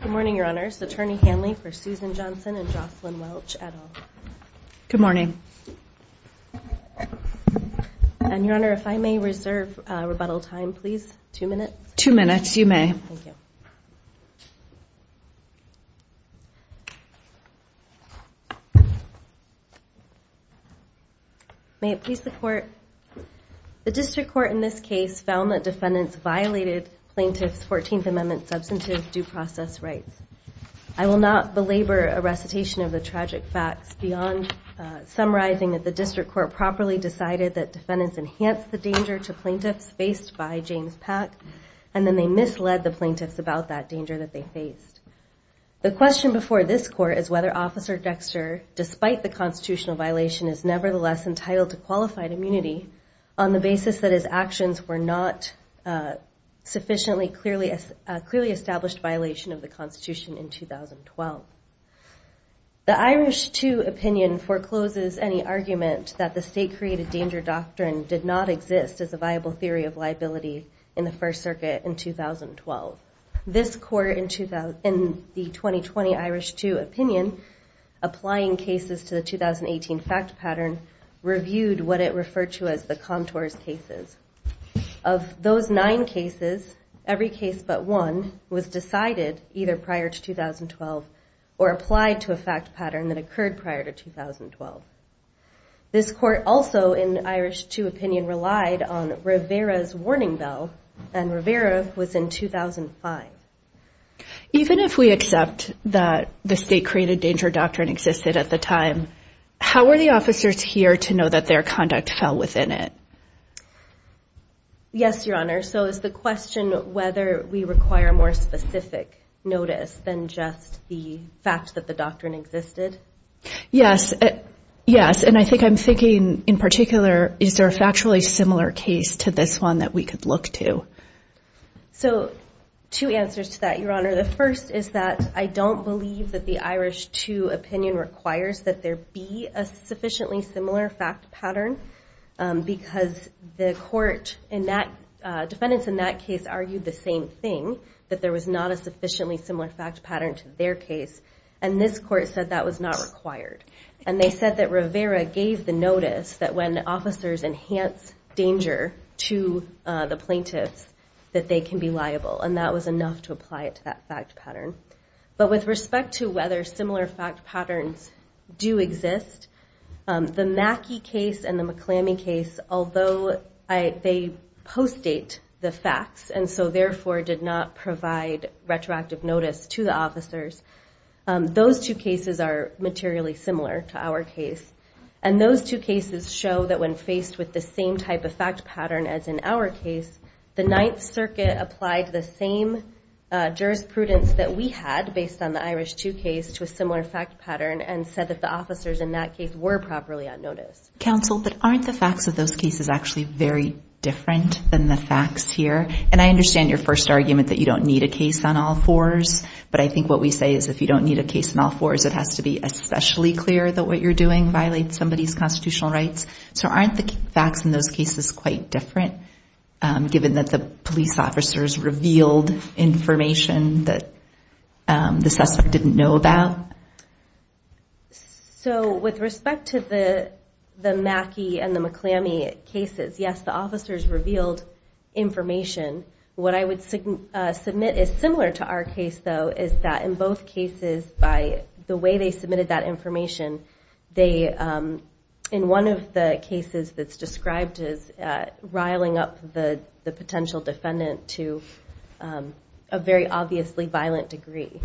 Good morning, your honors. Attorney Hanley for Susan Johnson and Jocelyn Welch et al. Good morning. And, your honor, if I may reserve rebuttal time, please. Two minutes. Two minutes. You may. Thank you. May it please the court. The district court in this case found that defendants violated plaintiff's 14th Amendment substantive due process rights. I will not belabor a recitation of the tragic facts beyond summarizing that the district court properly decided that defendants enhanced the danger to plaintiffs faced by James Pack, and then they misled the plaintiffs about that danger that they faced. The question before this court is whether Officer Dexter, despite the constitutional violation, is nevertheless entitled to qualified immunity on the basis that his actions were not sufficiently clearly established violation of the Constitution in 2012. The Irish 2 opinion forecloses any argument that the state created danger doctrine did not exist as a viable theory of liability in the First Circuit in 2012. This court in the 2020 Irish 2 opinion, applying cases to the 2018 fact pattern, reviewed what it referred to as the contours cases. Of those nine cases, every case but one was decided either prior to 2012 or applied to a fact pattern that occurred prior to 2012. This court also in Irish 2 opinion relied on Rivera's warning bell, and Rivera was in 2005. Even if we accept that the state created danger doctrine existed at the time, how were the within it? Yes, Your Honor. So is the question whether we require more specific notice than just the fact that the doctrine existed? Yes. Yes. And I think I'm thinking in particular, is there a factually similar case to this one that we could look to? So two answers to that, Your Honor. The first is that I don't believe that the Irish 2 opinion requires that there be a sufficiently similar fact pattern because the court in that, defendants in that case argued the same thing, that there was not a sufficiently similar fact pattern to their case. And this court said that was not required. And they said that Rivera gave the notice that when officers enhance danger to the plaintiffs, that they can be liable. And that was enough to apply it to that fact pattern. But with respect to whether similar fact patterns do exist, the Mackey case and the McClammy case, although they post-date the facts and so therefore did not provide retroactive notice to the officers, those two cases are materially similar to our case. And those two cases show that when faced with the same type of fact pattern as in our case, the Ninth Circuit applied the same jurisprudence that we had based on the Irish 2 case to a similar fact pattern and said that the officers in that case were properly on notice. Counsel, but aren't the facts of those cases actually very different than the facts here? And I understand your first argument that you don't need a case on all fours, but I think what we say is if you don't need a case on all fours, it has to be especially clear that what you're doing violates somebody's constitutional rights. So aren't the facts in those cases quite different given that the police officers revealed information that the suspect didn't know about? So with respect to the Mackey and the McClammy cases, yes, the officers revealed information. What I would submit is similar to our case, though, is that in both cases by the way they described is riling up the potential defendant to a very obviously violent degree.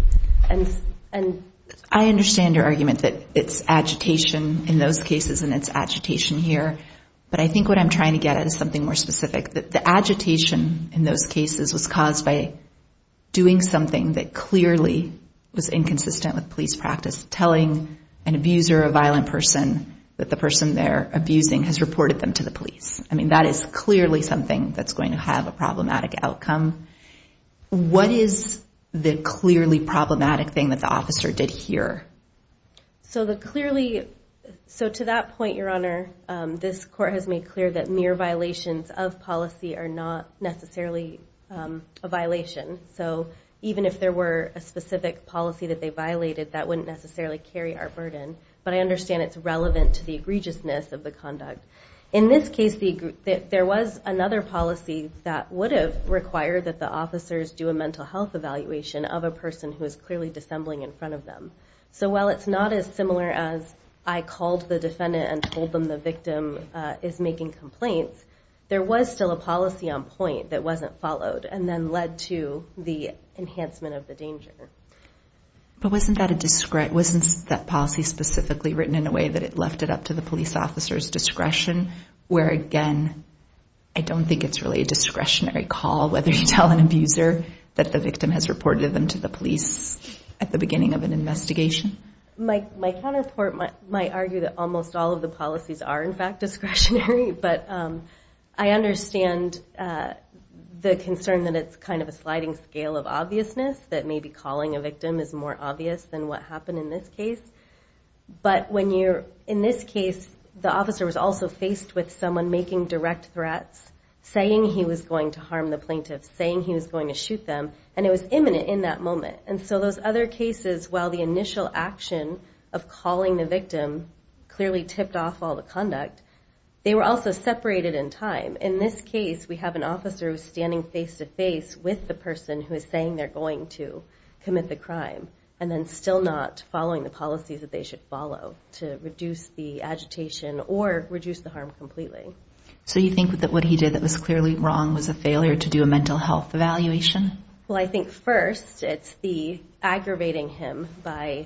I understand your argument that it's agitation in those cases and it's agitation here, but I think what I'm trying to get at is something more specific, that the agitation in those cases was caused by doing something that clearly was inconsistent with police practice, telling an abuser or a violent person that the person they're abusing has reported them to the police. That is clearly something that's going to have a problematic outcome. What is the clearly problematic thing that the officer did here? So to that point, Your Honor, this court has made clear that mere violations of policy are not necessarily a violation. So even if there were a specific policy that they violated, that wouldn't necessarily carry our burden. But I understand it's relevant to the egregiousness of the conduct. In this case, there was another policy that would have required that the officers do a mental health evaluation of a person who is clearly dissembling in front of them. So while it's not as similar as I called the defendant and told them the victim is making complaints, there was still a policy on point that wasn't followed and then led to the enhancement of the danger. But wasn't that policy specifically written in a way that it left it up to the police officer's discretion? Where again, I don't think it's really a discretionary call whether you tell an abuser that the victim has reported them to the police at the beginning of an investigation. My counterpart might argue that almost all of the policies are in fact discretionary, but I understand the concern that it's kind of a sliding scale of obviousness that may be calling a victim is more obvious than what happened in this case. But in this case, the officer was also faced with someone making direct threats, saying he was going to harm the plaintiff, saying he was going to shoot them, and it was imminent in that moment. And so those other cases, while the initial action of calling the victim clearly tipped off all the conduct, they were also separated in time. In this case, we have an officer who's standing face-to-face with the person who is saying they're going to commit the crime and then still not following the policies that they should follow to reduce the agitation or reduce the harm completely. So you think that what he did that was clearly wrong was a failure to do a mental health evaluation? Well, I think first, it's the aggravating him by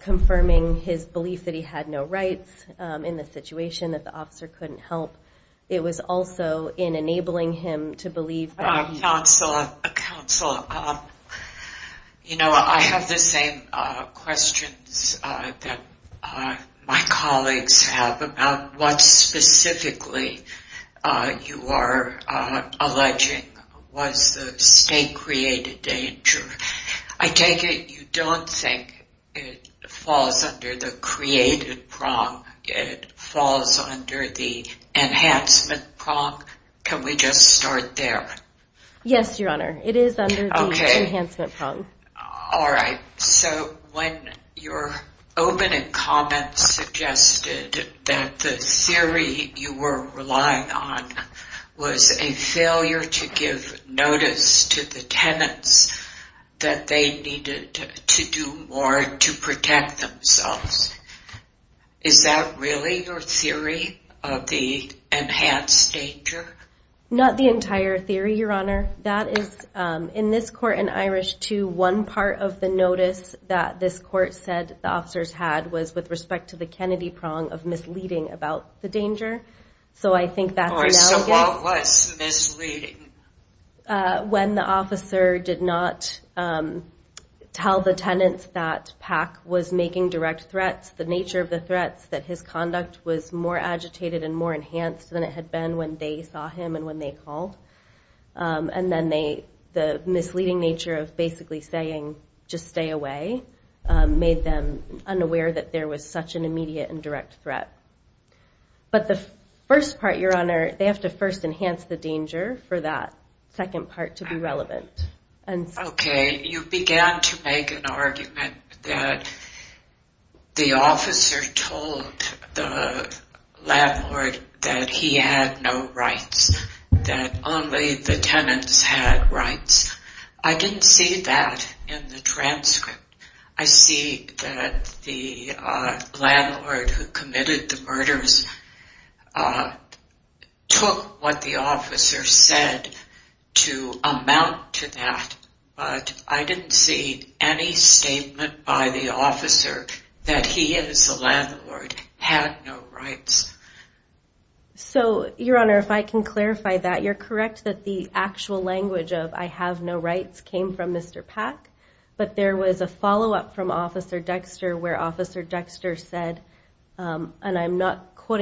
confirming his belief that he had no rights in the situation, that the officer couldn't help. It was also in enabling him to believe... Counsel, you know, I have the same questions that my colleagues have about what specifically you are alleging was the state-created danger. I take it you don't think it falls under the state-created prong. It falls under the enhancement prong. Can we just start there? Yes, Your Honor. It is under the enhancement prong. Okay. All right. So when your opening comments suggested that the theory you were relying on was a failure to give notice to the tenants that they needed to do more to protect themselves, is that really your theory of the enhanced danger? Not the entire theory, Your Honor. That is, in this court in Irish II, one part of the notice that this court said the officers had was with respect to the Kennedy prong of misleading about the danger. So I think that's an allegation. So what was misleading? When the officer did not tell the tenants that Pack was making direct threats, the nature of the threats, that his conduct was more agitated and more enhanced than it had been when they saw him and when they called. And then the misleading nature of basically saying just stay away made them unaware that there was such an immediate and direct threat. But the first part, Your Honor, they have to first enhance the danger for that second part to be relevant. Okay. You began to make an argument that the officer told the landlord that he had no rights, that only the tenants had rights. I didn't see that in the transcript. I see that the landlord took what the officer said to amount to that, but I didn't see any statement by the officer that he, as the landlord, had no rights. So, Your Honor, if I can clarify that, you're correct that the actual language of I have no rights came from Mr. Pack, but there was a follow-up from Officer Dexter where Officer I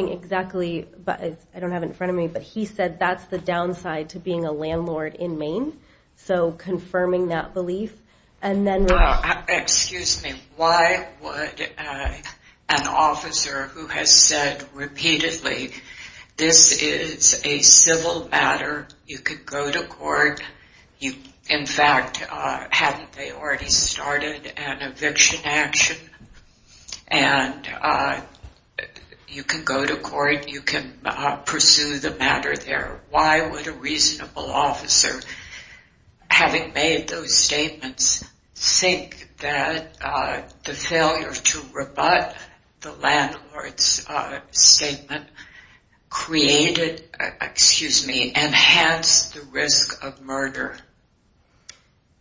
don't have it in front of me, but he said that's the downside to being a landlord in Maine. So, confirming that belief. Excuse me. Why would an officer who has said repeatedly this is a civil matter, you could an eviction action, and you can go to court, you can pursue the matter there. Why would a reasonable officer, having made those statements, think that the failure to rebut the landlord's statement created, excuse me, enhanced the risk of murder?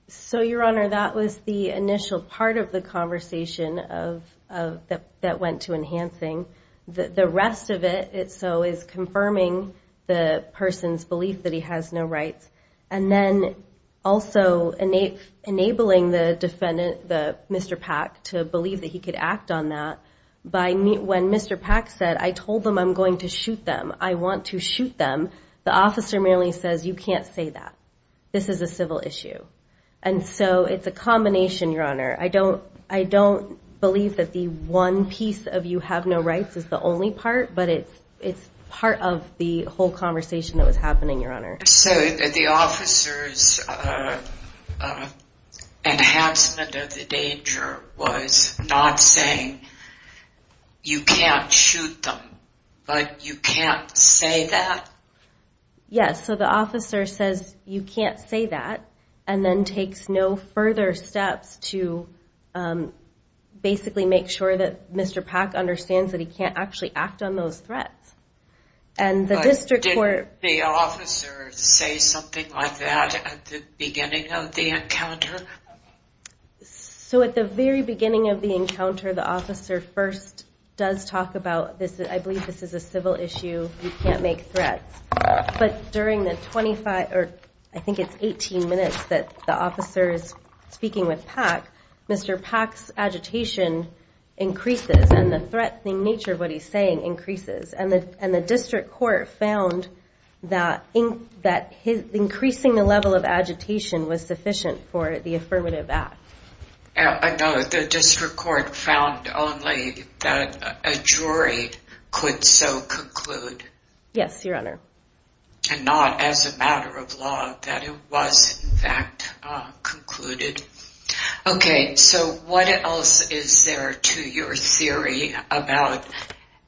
So, Your Honor, that was the initial part of the conversation that went to enhancing. The rest of it, so, is confirming the person's belief that he has no rights, and then also enabling the defendant, Mr. Pack, to believe that he could act on that by when Mr. Pack said, I told them I'm going to shoot them, I want to shoot them, the officer merely says you can't say that. This is a civil issue. And so, it's a combination, Your Honor. I don't believe that the one piece of you have no rights is the only part, but it's part of the whole conversation that was happening, Your Honor. So, the officer's enhancement of the danger was not saying you can't shoot them, but you can't say that? Yes. So, the officer says you can't say that, and then takes no further steps to basically make sure that Mr. Pack understands that he can't actually act on those threats. But didn't the officer say something like that at the beginning of the encounter? So, at the very beginning of the encounter, the officer first does talk about, I believe this is a civil issue, you can't make threats. But during the 25, or I think it's 18 minutes that the officer is speaking with Pack, Mr. Pack's agitation increases, and the threat, the nature of what he's saying increases. And the district court found that increasing the level of agitation was sufficient for the affirmative act. No, the district court found only that a jury could so conclude. Yes, Your Honor. And not as a matter of law, that it was in fact concluded. Okay, so what else is there to your theory about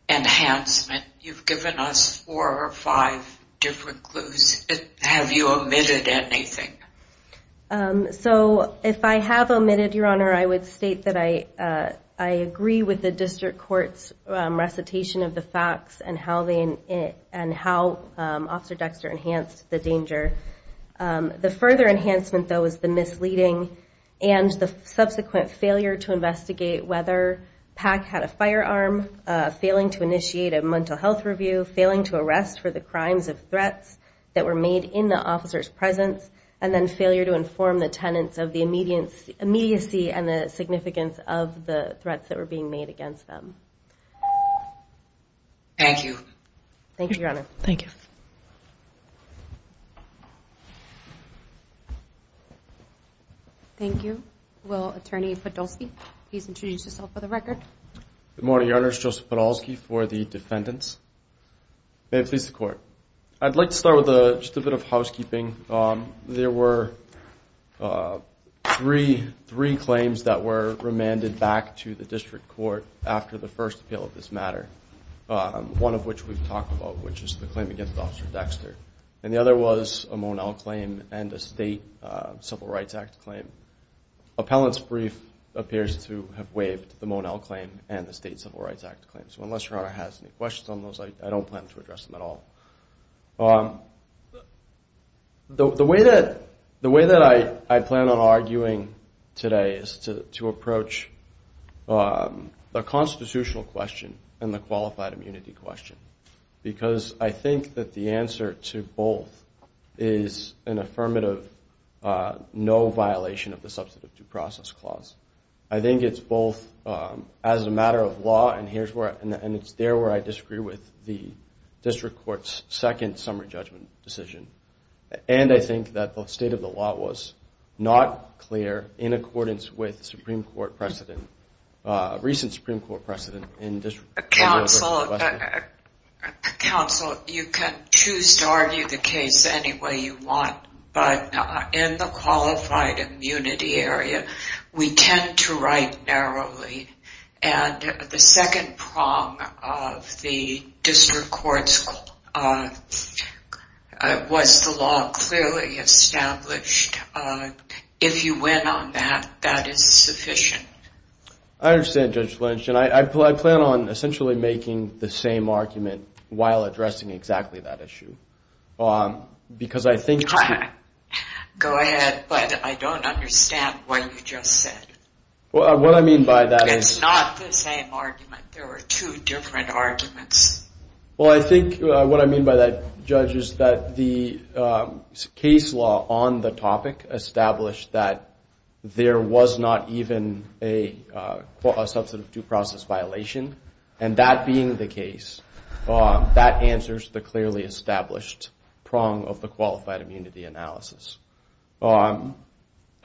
enhancement? You've given us four or five different clues. Have you omitted anything? So, if I have omitted, Your Honor, I would state that I agree with the district court's recitation of the facts and how Officer Dexter enhanced the danger. The further enhancement, though, is the misleading and the subsequent failure to investigate whether Pack had a firearm, failing to initiate a mental health review, failing to arrest for the crimes of threats that were made in the officer's presence, and then failure to inform the tenants of the immediacy and the significance of the threats that were being made against them. Thank you. Thank you, Your Honor. Thank you. Thank you. Will Attorney Podolsky please introduce himself for the record? Good morning, Your Honor. It's Joseph Podolsky for the defendants. May it please the Court. I'd like to start with just a bit of housekeeping. There were three claims that were remanded back to the district court after the first appeal of this matter, one of which we've talked about, which is the claim against Officer Dexter, and the other was a Monell claim and a state Civil Rights Act claim. Appellant's brief appears to have waived the Monell claim and the state Civil Rights Act claim. So unless Your Honor has any questions on those, I don't plan to address them at all. The way that I plan on arguing today is to approach the constitutional question and the qualified immunity question, because I think that the answer to both is an affirmative no violation of the Substantive Due Process Clause. I think it's both as a matter of law, and it's there where I disagree with the district court's second summary judgment decision, and I think that the state of the law was not clear in accordance with the Supreme Court precedent, recent Supreme Court precedent. Counsel, you can choose to argue the case any way you want, but in the qualified immunity area, we tend to write narrowly, and the second prong of the district court's was the law clearly established. If you win on that, that is sufficient. I understand, Judge Lynch, and I plan on essentially making the same argument while addressing exactly that issue, because I think... Go ahead, but I don't understand what you just said. What I mean by that is... It's not the same argument. There were two different arguments. Well, I think what I mean by that, Judge, is that the case law on the topic established that there was not even a substantive due process violation, and that being the case, that answers the clearly established prong of the qualified immunity analysis. And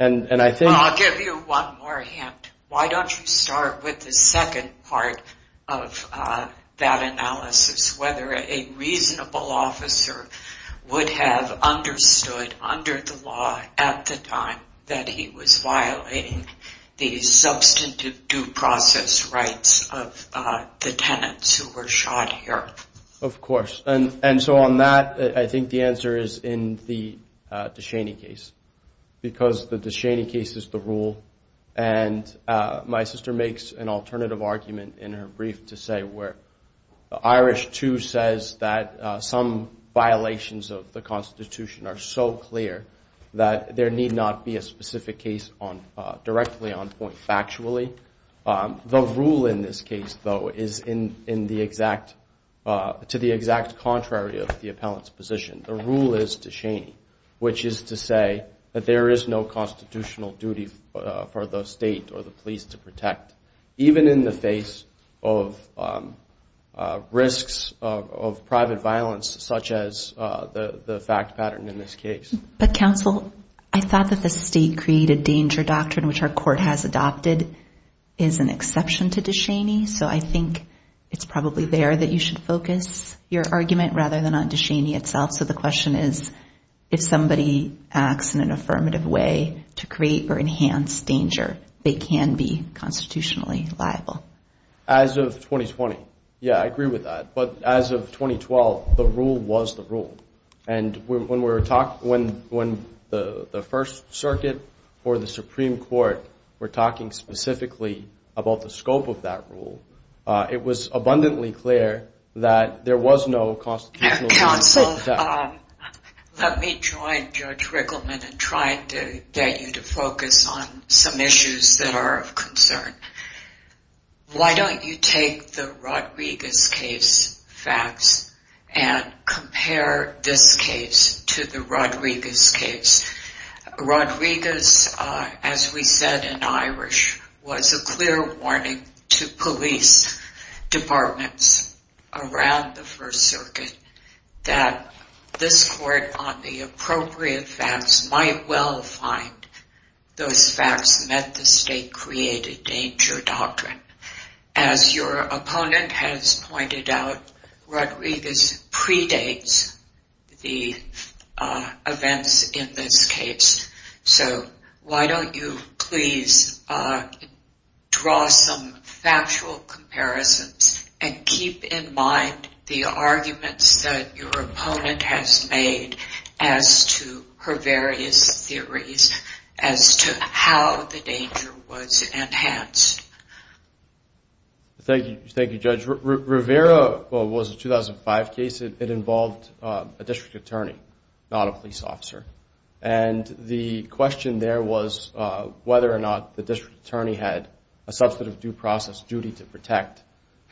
I think... Well, I'll give you one more hint. Why don't you start with the second part of that analysis, whether a reasonable officer would have understood under the law at the time that he was violating the substantive due process rights of the tenants who were shot here? Of course, and so on that, I think the answer is in the DeShaney case, because the DeShaney case is the rule, and my sister makes an alternative argument in her brief to say where the Irish, too, says that some violations of the Constitution are so clear that there need not be a specific case directly on point factually. The rule in this case, though, is to the exact contrary of the appellant's position. The rule is DeShaney, which is to say that there is no constitutional duty for the state or the police to protect, even in the face of risks of private violence such as the fact pattern in this case. But, counsel, I thought that the state created danger doctrine, which our court has adopted, is an exception to DeShaney, so I think it's probably there that you should focus your argument rather than on DeShaney itself. So the question is, if somebody acts in an affirmative way to create or enhance danger, they can be constitutionally liable. As of 2020, yeah, I agree with that, but as of 2012, the rule was the rule, and when the First Circuit or the Supreme Court were talking specifically about the scope of that rule, it was abundantly clear that there was no constitutional duty to protect. Counsel, let me join Judge Rickleman in trying to get you to focus on some issues that are of concern. Why don't you take the Rodriguez case facts and compare this case to the Rodriguez case? Rodriguez, as we said in Irish, was a clear warning to police departments around the First Circuit that this court, on the appropriate facts, might well find those facts met the state-created danger doctrine. As your opponent has pointed out, Rodriguez predates the events in this case, so why don't you please draw some factual comparisons and keep in mind the arguments that your opponent has made as to her various theories as to how the danger was enhanced. Thank you, Judge. Rivera was a 2005 case. It involved a district attorney, not a police officer, and the question there was whether or not the district attorney had a substantive due process duty to protect,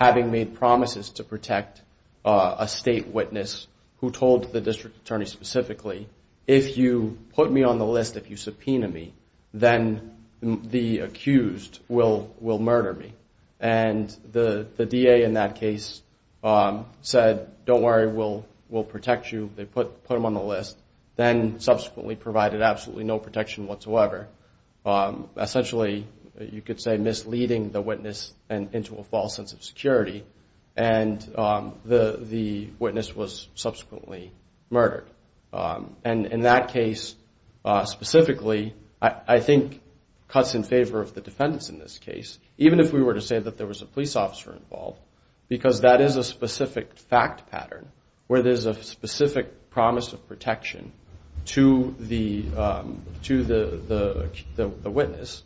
having made promises to protect a state witness who told the district attorney specifically, if you put me on the list, if you subpoena me, then the accused will murder me. And the DA in that case said, don't worry, we'll protect you. They put him on the list, then subsequently provided absolutely no protection whatsoever. Essentially, you could say misleading the witness into a false sense of security, and the witness was subsequently murdered. And in that case specifically, I think cuts in favor of the defendants in this case, even if we were to say that there was a police officer involved, because that is a specific fact pattern, where there's a specific promise of protection to the witness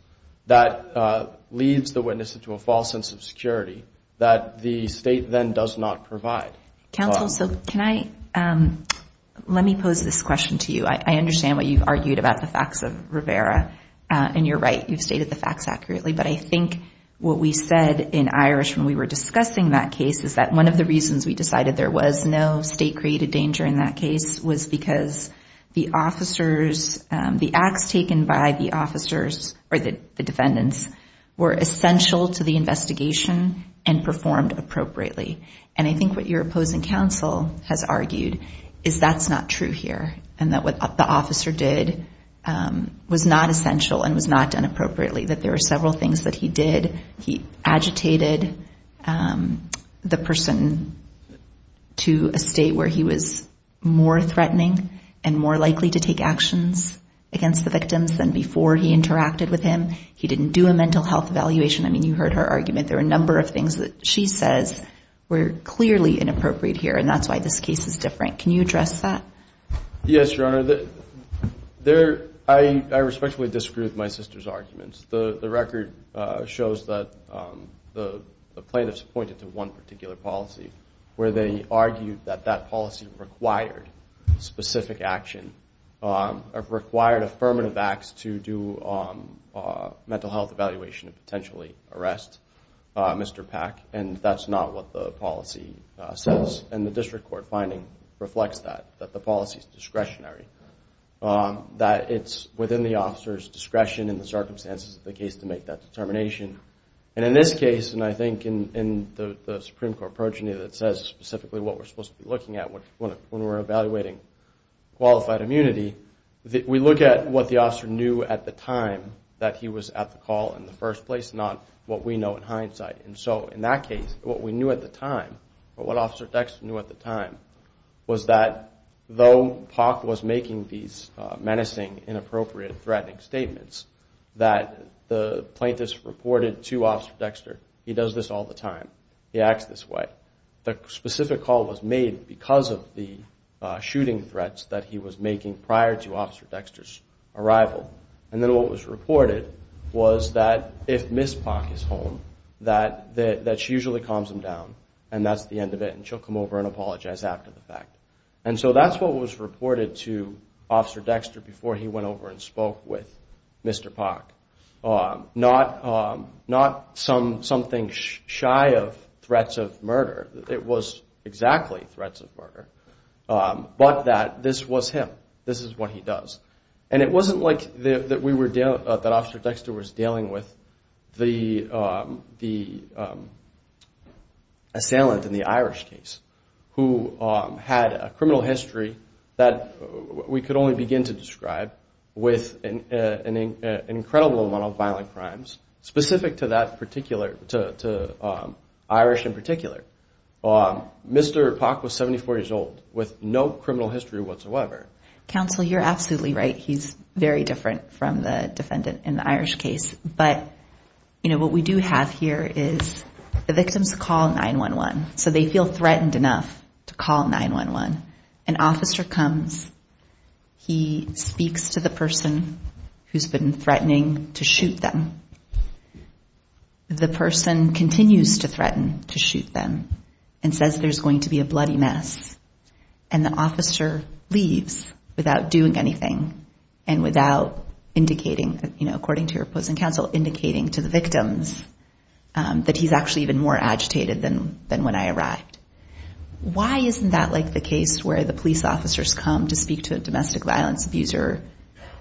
that leads the witness into a false sense of security, that the state then does not provide. Counsel, so can I, let me pose this question to you. I understand what you've argued about the facts of Rivera, and you're right. You've stated the facts accurately, but I think what we said in Irish when we were discussing that case is that one of the reasons we decided there was no state-created danger in that case was because the officers, the acts taken by the officers, or the defendants, were essential to the investigation and performed appropriately. And I think what your opposing counsel has argued is that's not true here, and that what the officer did was not essential and was not done appropriately, that there were several things that he did. He agitated the person to a state where he was more threatening and more likely to take actions against the victims than before he interacted with him. He didn't do a mental health evaluation. I mean, you heard her argument. There were a number of things that she says were clearly inappropriate here, and that's why this case is different. Can you address that? Yes, Your Honor. I respectfully disagree with my sister's arguments. The record shows that the plaintiffs pointed to one particular policy where they argued that that policy required specific action, required affirmative acts to do mental health evaluation and potentially arrest Mr. Pack, and that's not what the policy says. And the district court finding reflects that, that the policy is discretionary, that it's within the officer's discretion in the circumstances of the case to make that determination. And in this case, and I think in the Supreme Court progeny that says specifically what we're supposed to be looking at when we're evaluating qualified immunity, we look at what the officer knew at the time that he was at the call in the first place, not what we know in hindsight. And so in that case, what we knew at the time, or what Officer Dexter knew at the time, was that though Pack was making these menacing, inappropriate, threatening statements, that the plaintiffs reported to Officer Dexter, he does this all the time. He acts this way. The specific call was made because of the shooting threats that he was making prior to Officer Dexter's arrival. And then what was reported was that if Ms. Pack is home, that she usually calms him down, and that's the end of it, and she'll come over and apologize after the fact. And so that's what was reported to Officer Dexter before he went over and spoke with Mr. Pack. Not something shy of threats of murder. It was exactly threats of murder. But that this was him. This is what he does. And it wasn't like that Officer Dexter was dealing with the assailant in the Irish case who had a criminal history that we could only begin to describe with an incredible amount of violent crimes specific to Irish in particular. Mr. Pack was 74 years old with no criminal history whatsoever. Counsel, you're absolutely right. He's very different from the defendant in the Irish case. But what we do have here is the victims call 911. So they feel threatened enough to call 911. An officer comes. He speaks to the person who's been threatening to shoot them. The person continues to threaten to shoot them and says there's going to be a bloody mess. And the officer leaves without doing anything and without indicating, according to your opposing counsel, indicating to the victims that he's actually even more agitated than when I arrived. Why isn't that like the case where the police officers come to speak to a domestic violence abuser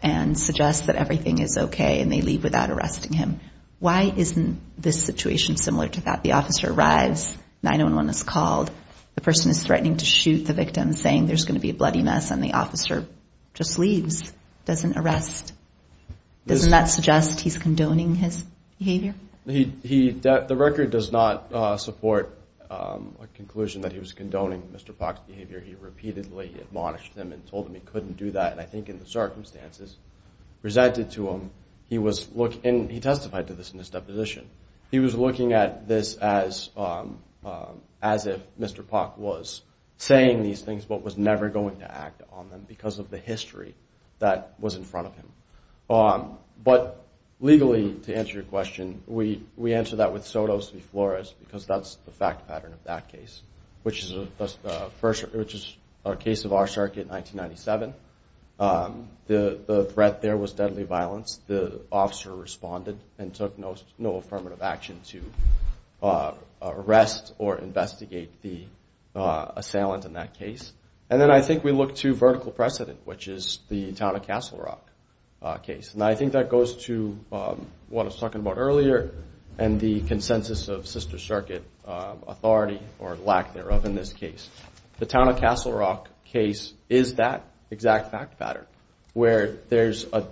and suggest that everything is okay and they leave without arresting him? Why isn't this situation similar to that? The officer arrives. 911 is called. The person is threatening to shoot the victim, saying there's going to be a bloody mess, and the officer just leaves, doesn't arrest. Doesn't that suggest he's condoning his behavior? The record does not support a conclusion that he was condoning Mr. Pack's behavior. He repeatedly admonished him and told him he couldn't do that. And I think in the circumstances presented to him, he testified to this in his deposition, he was looking at this as if Mr. Pack was saying these things but was never going to act on them because of the history that was in front of him. But legally, to answer your question, we answer that with sodos v. flores because that's the fact pattern of that case, which is a case of our circuit in 1997. The threat there was deadly violence. The officer responded and took no affirmative action to arrest or investigate the assailant in that case. And then I think we look to vertical precedent, which is the Town of Castle Rock case. And I think that goes to what I was talking about earlier and the consensus of Sister Circuit authority, or lack thereof, in this case. The Town of Castle Rock case is that exact fact pattern, where there's a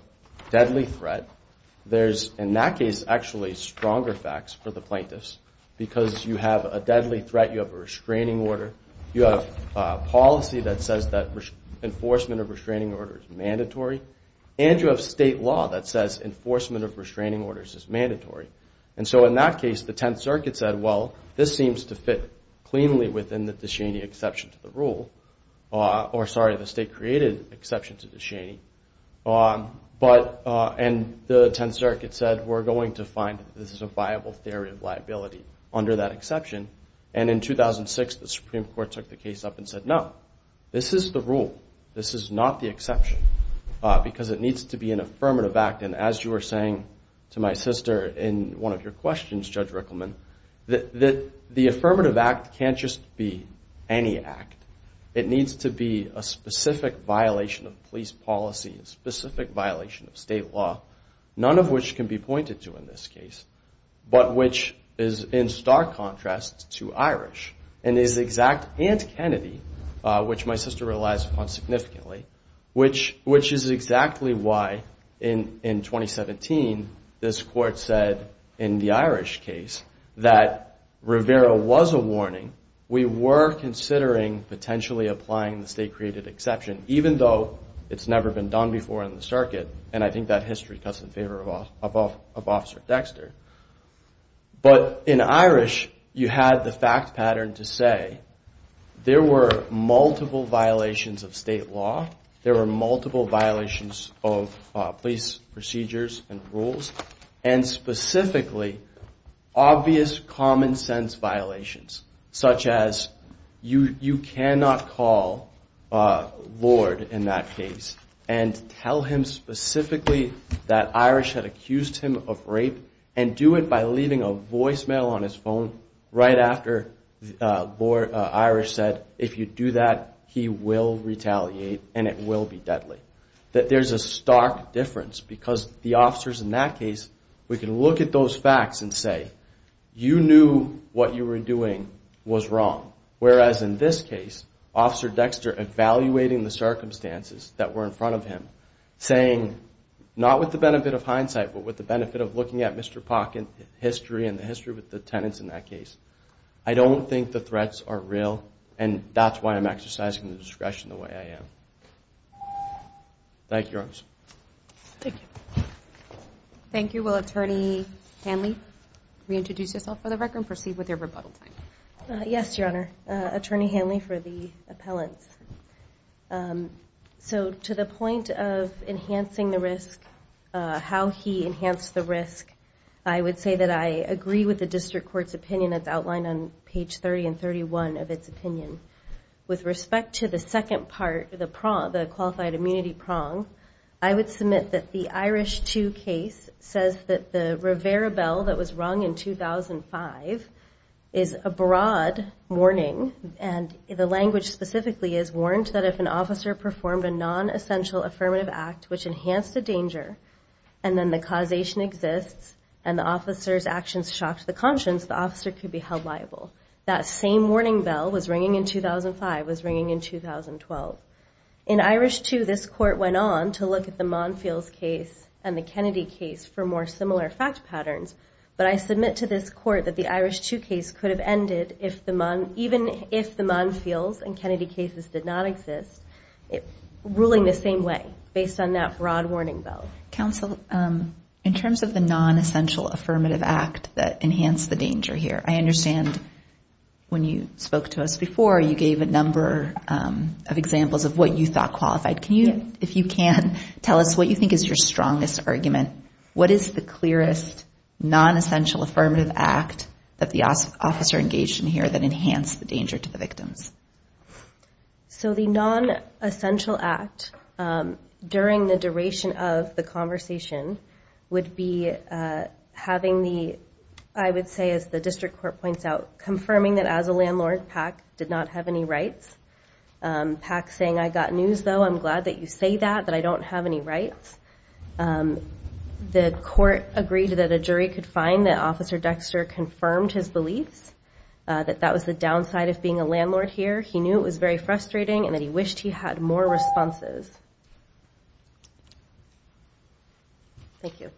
deadly threat. There's, in that case, actually stronger facts for the plaintiffs because you have a deadly threat, you have a restraining order, you have policy that says that enforcement of restraining orders is mandatory, and you have state law that says enforcement of restraining orders is mandatory. And so in that case, the Tenth Circuit said, well, this seems to fit cleanly within the Ducheney exception to the rule, or sorry, the state-created exception to Ducheney. And the Tenth Circuit said, we're going to find that this is a viable theory of liability under that exception. And in 2006, the Supreme Court took the case up and said, no, this is the rule. This is not the exception because it needs to be an affirmative act. And as you were saying to my sister in one of your questions, Judge Rickleman, the affirmative act can't just be any act. It needs to be a specific violation of police policy, a specific violation of state law, none of which can be pointed to in this case, but which is in stark contrast to Irish. And it is exact and Kennedy, which my sister relies upon significantly, which is exactly why in 2017 this court said in the Irish case that Rivera was a warning. We were considering potentially applying the state-created exception, even though it's never been done before in the circuit. And I think that history cuts in favor of Officer Dexter. But in Irish, you had the fact pattern to say there were multiple violations of state law. There were multiple violations of police procedures and rules and specifically obvious common sense violations, such as you cannot call Lord in that case and tell him specifically that Irish had accused him of rape and do it by leaving a voicemail on his phone right after Lord Irish said, if you do that, he will retaliate and it will be deadly. That there's a stark difference because the officers in that case, we can look at those facts and say, you knew what you were doing was wrong. Whereas in this case, Officer Dexter evaluating the circumstances that were in front of him, saying not with the benefit of hindsight, but with the benefit of looking at Mr. Pock and the history with the tenants in that case. I don't think the threats are real and that's why I'm exercising the discretion the way I am. Thank you, Your Honors. Thank you. Will Attorney Hanley reintroduce herself for the record and proceed with your rebuttal time? Yes, Your Honor. Attorney Hanley for the appellants. So to the point of enhancing the risk, how he enhanced the risk, I would say that I agree with the district court's opinion that's outlined on page 30 and 31 of its opinion. With respect to the second part, the qualified immunity prong, I would submit that the Irish 2 case says that the Rivera Bell that was rung in 2005 is a broad warning. And the language specifically is warned that if an officer performed a non-essential affirmative act, which enhanced the danger, and then the causation exists, and the officer's actions shocked the conscience, the officer could be held liable. That same warning bell was ringing in 2005, was ringing in 2012. In Irish 2, this court went on to look at the Monfields case and the Kennedy case for more similar fact patterns. But I submit to this court that the Irish 2 case could have ended even if the Monfields and Kennedy cases did not exist, ruling the same way, based on that broad warning bell. Counsel, in terms of the non-essential affirmative act that enhanced the danger here, I understand when you spoke to us before, you gave a number of examples of what you thought qualified. Can you, if you can, tell us what you think is your strongest argument? What is the clearest non-essential affirmative act that the officer engaged in here that enhanced the danger to the victims? So the non-essential act, during the duration of the conversation, would be having the, I would say, as the district court points out, confirming that as a landlord, PAC did not have any rights. PAC saying, I got news though, I'm glad that you say that, that I don't have any rights. The court agreed that a jury could find that Officer Dexter confirmed his beliefs, that that was the downside of being a landlord here. He knew it was very frustrating and that he wished he had more responses. Thank you.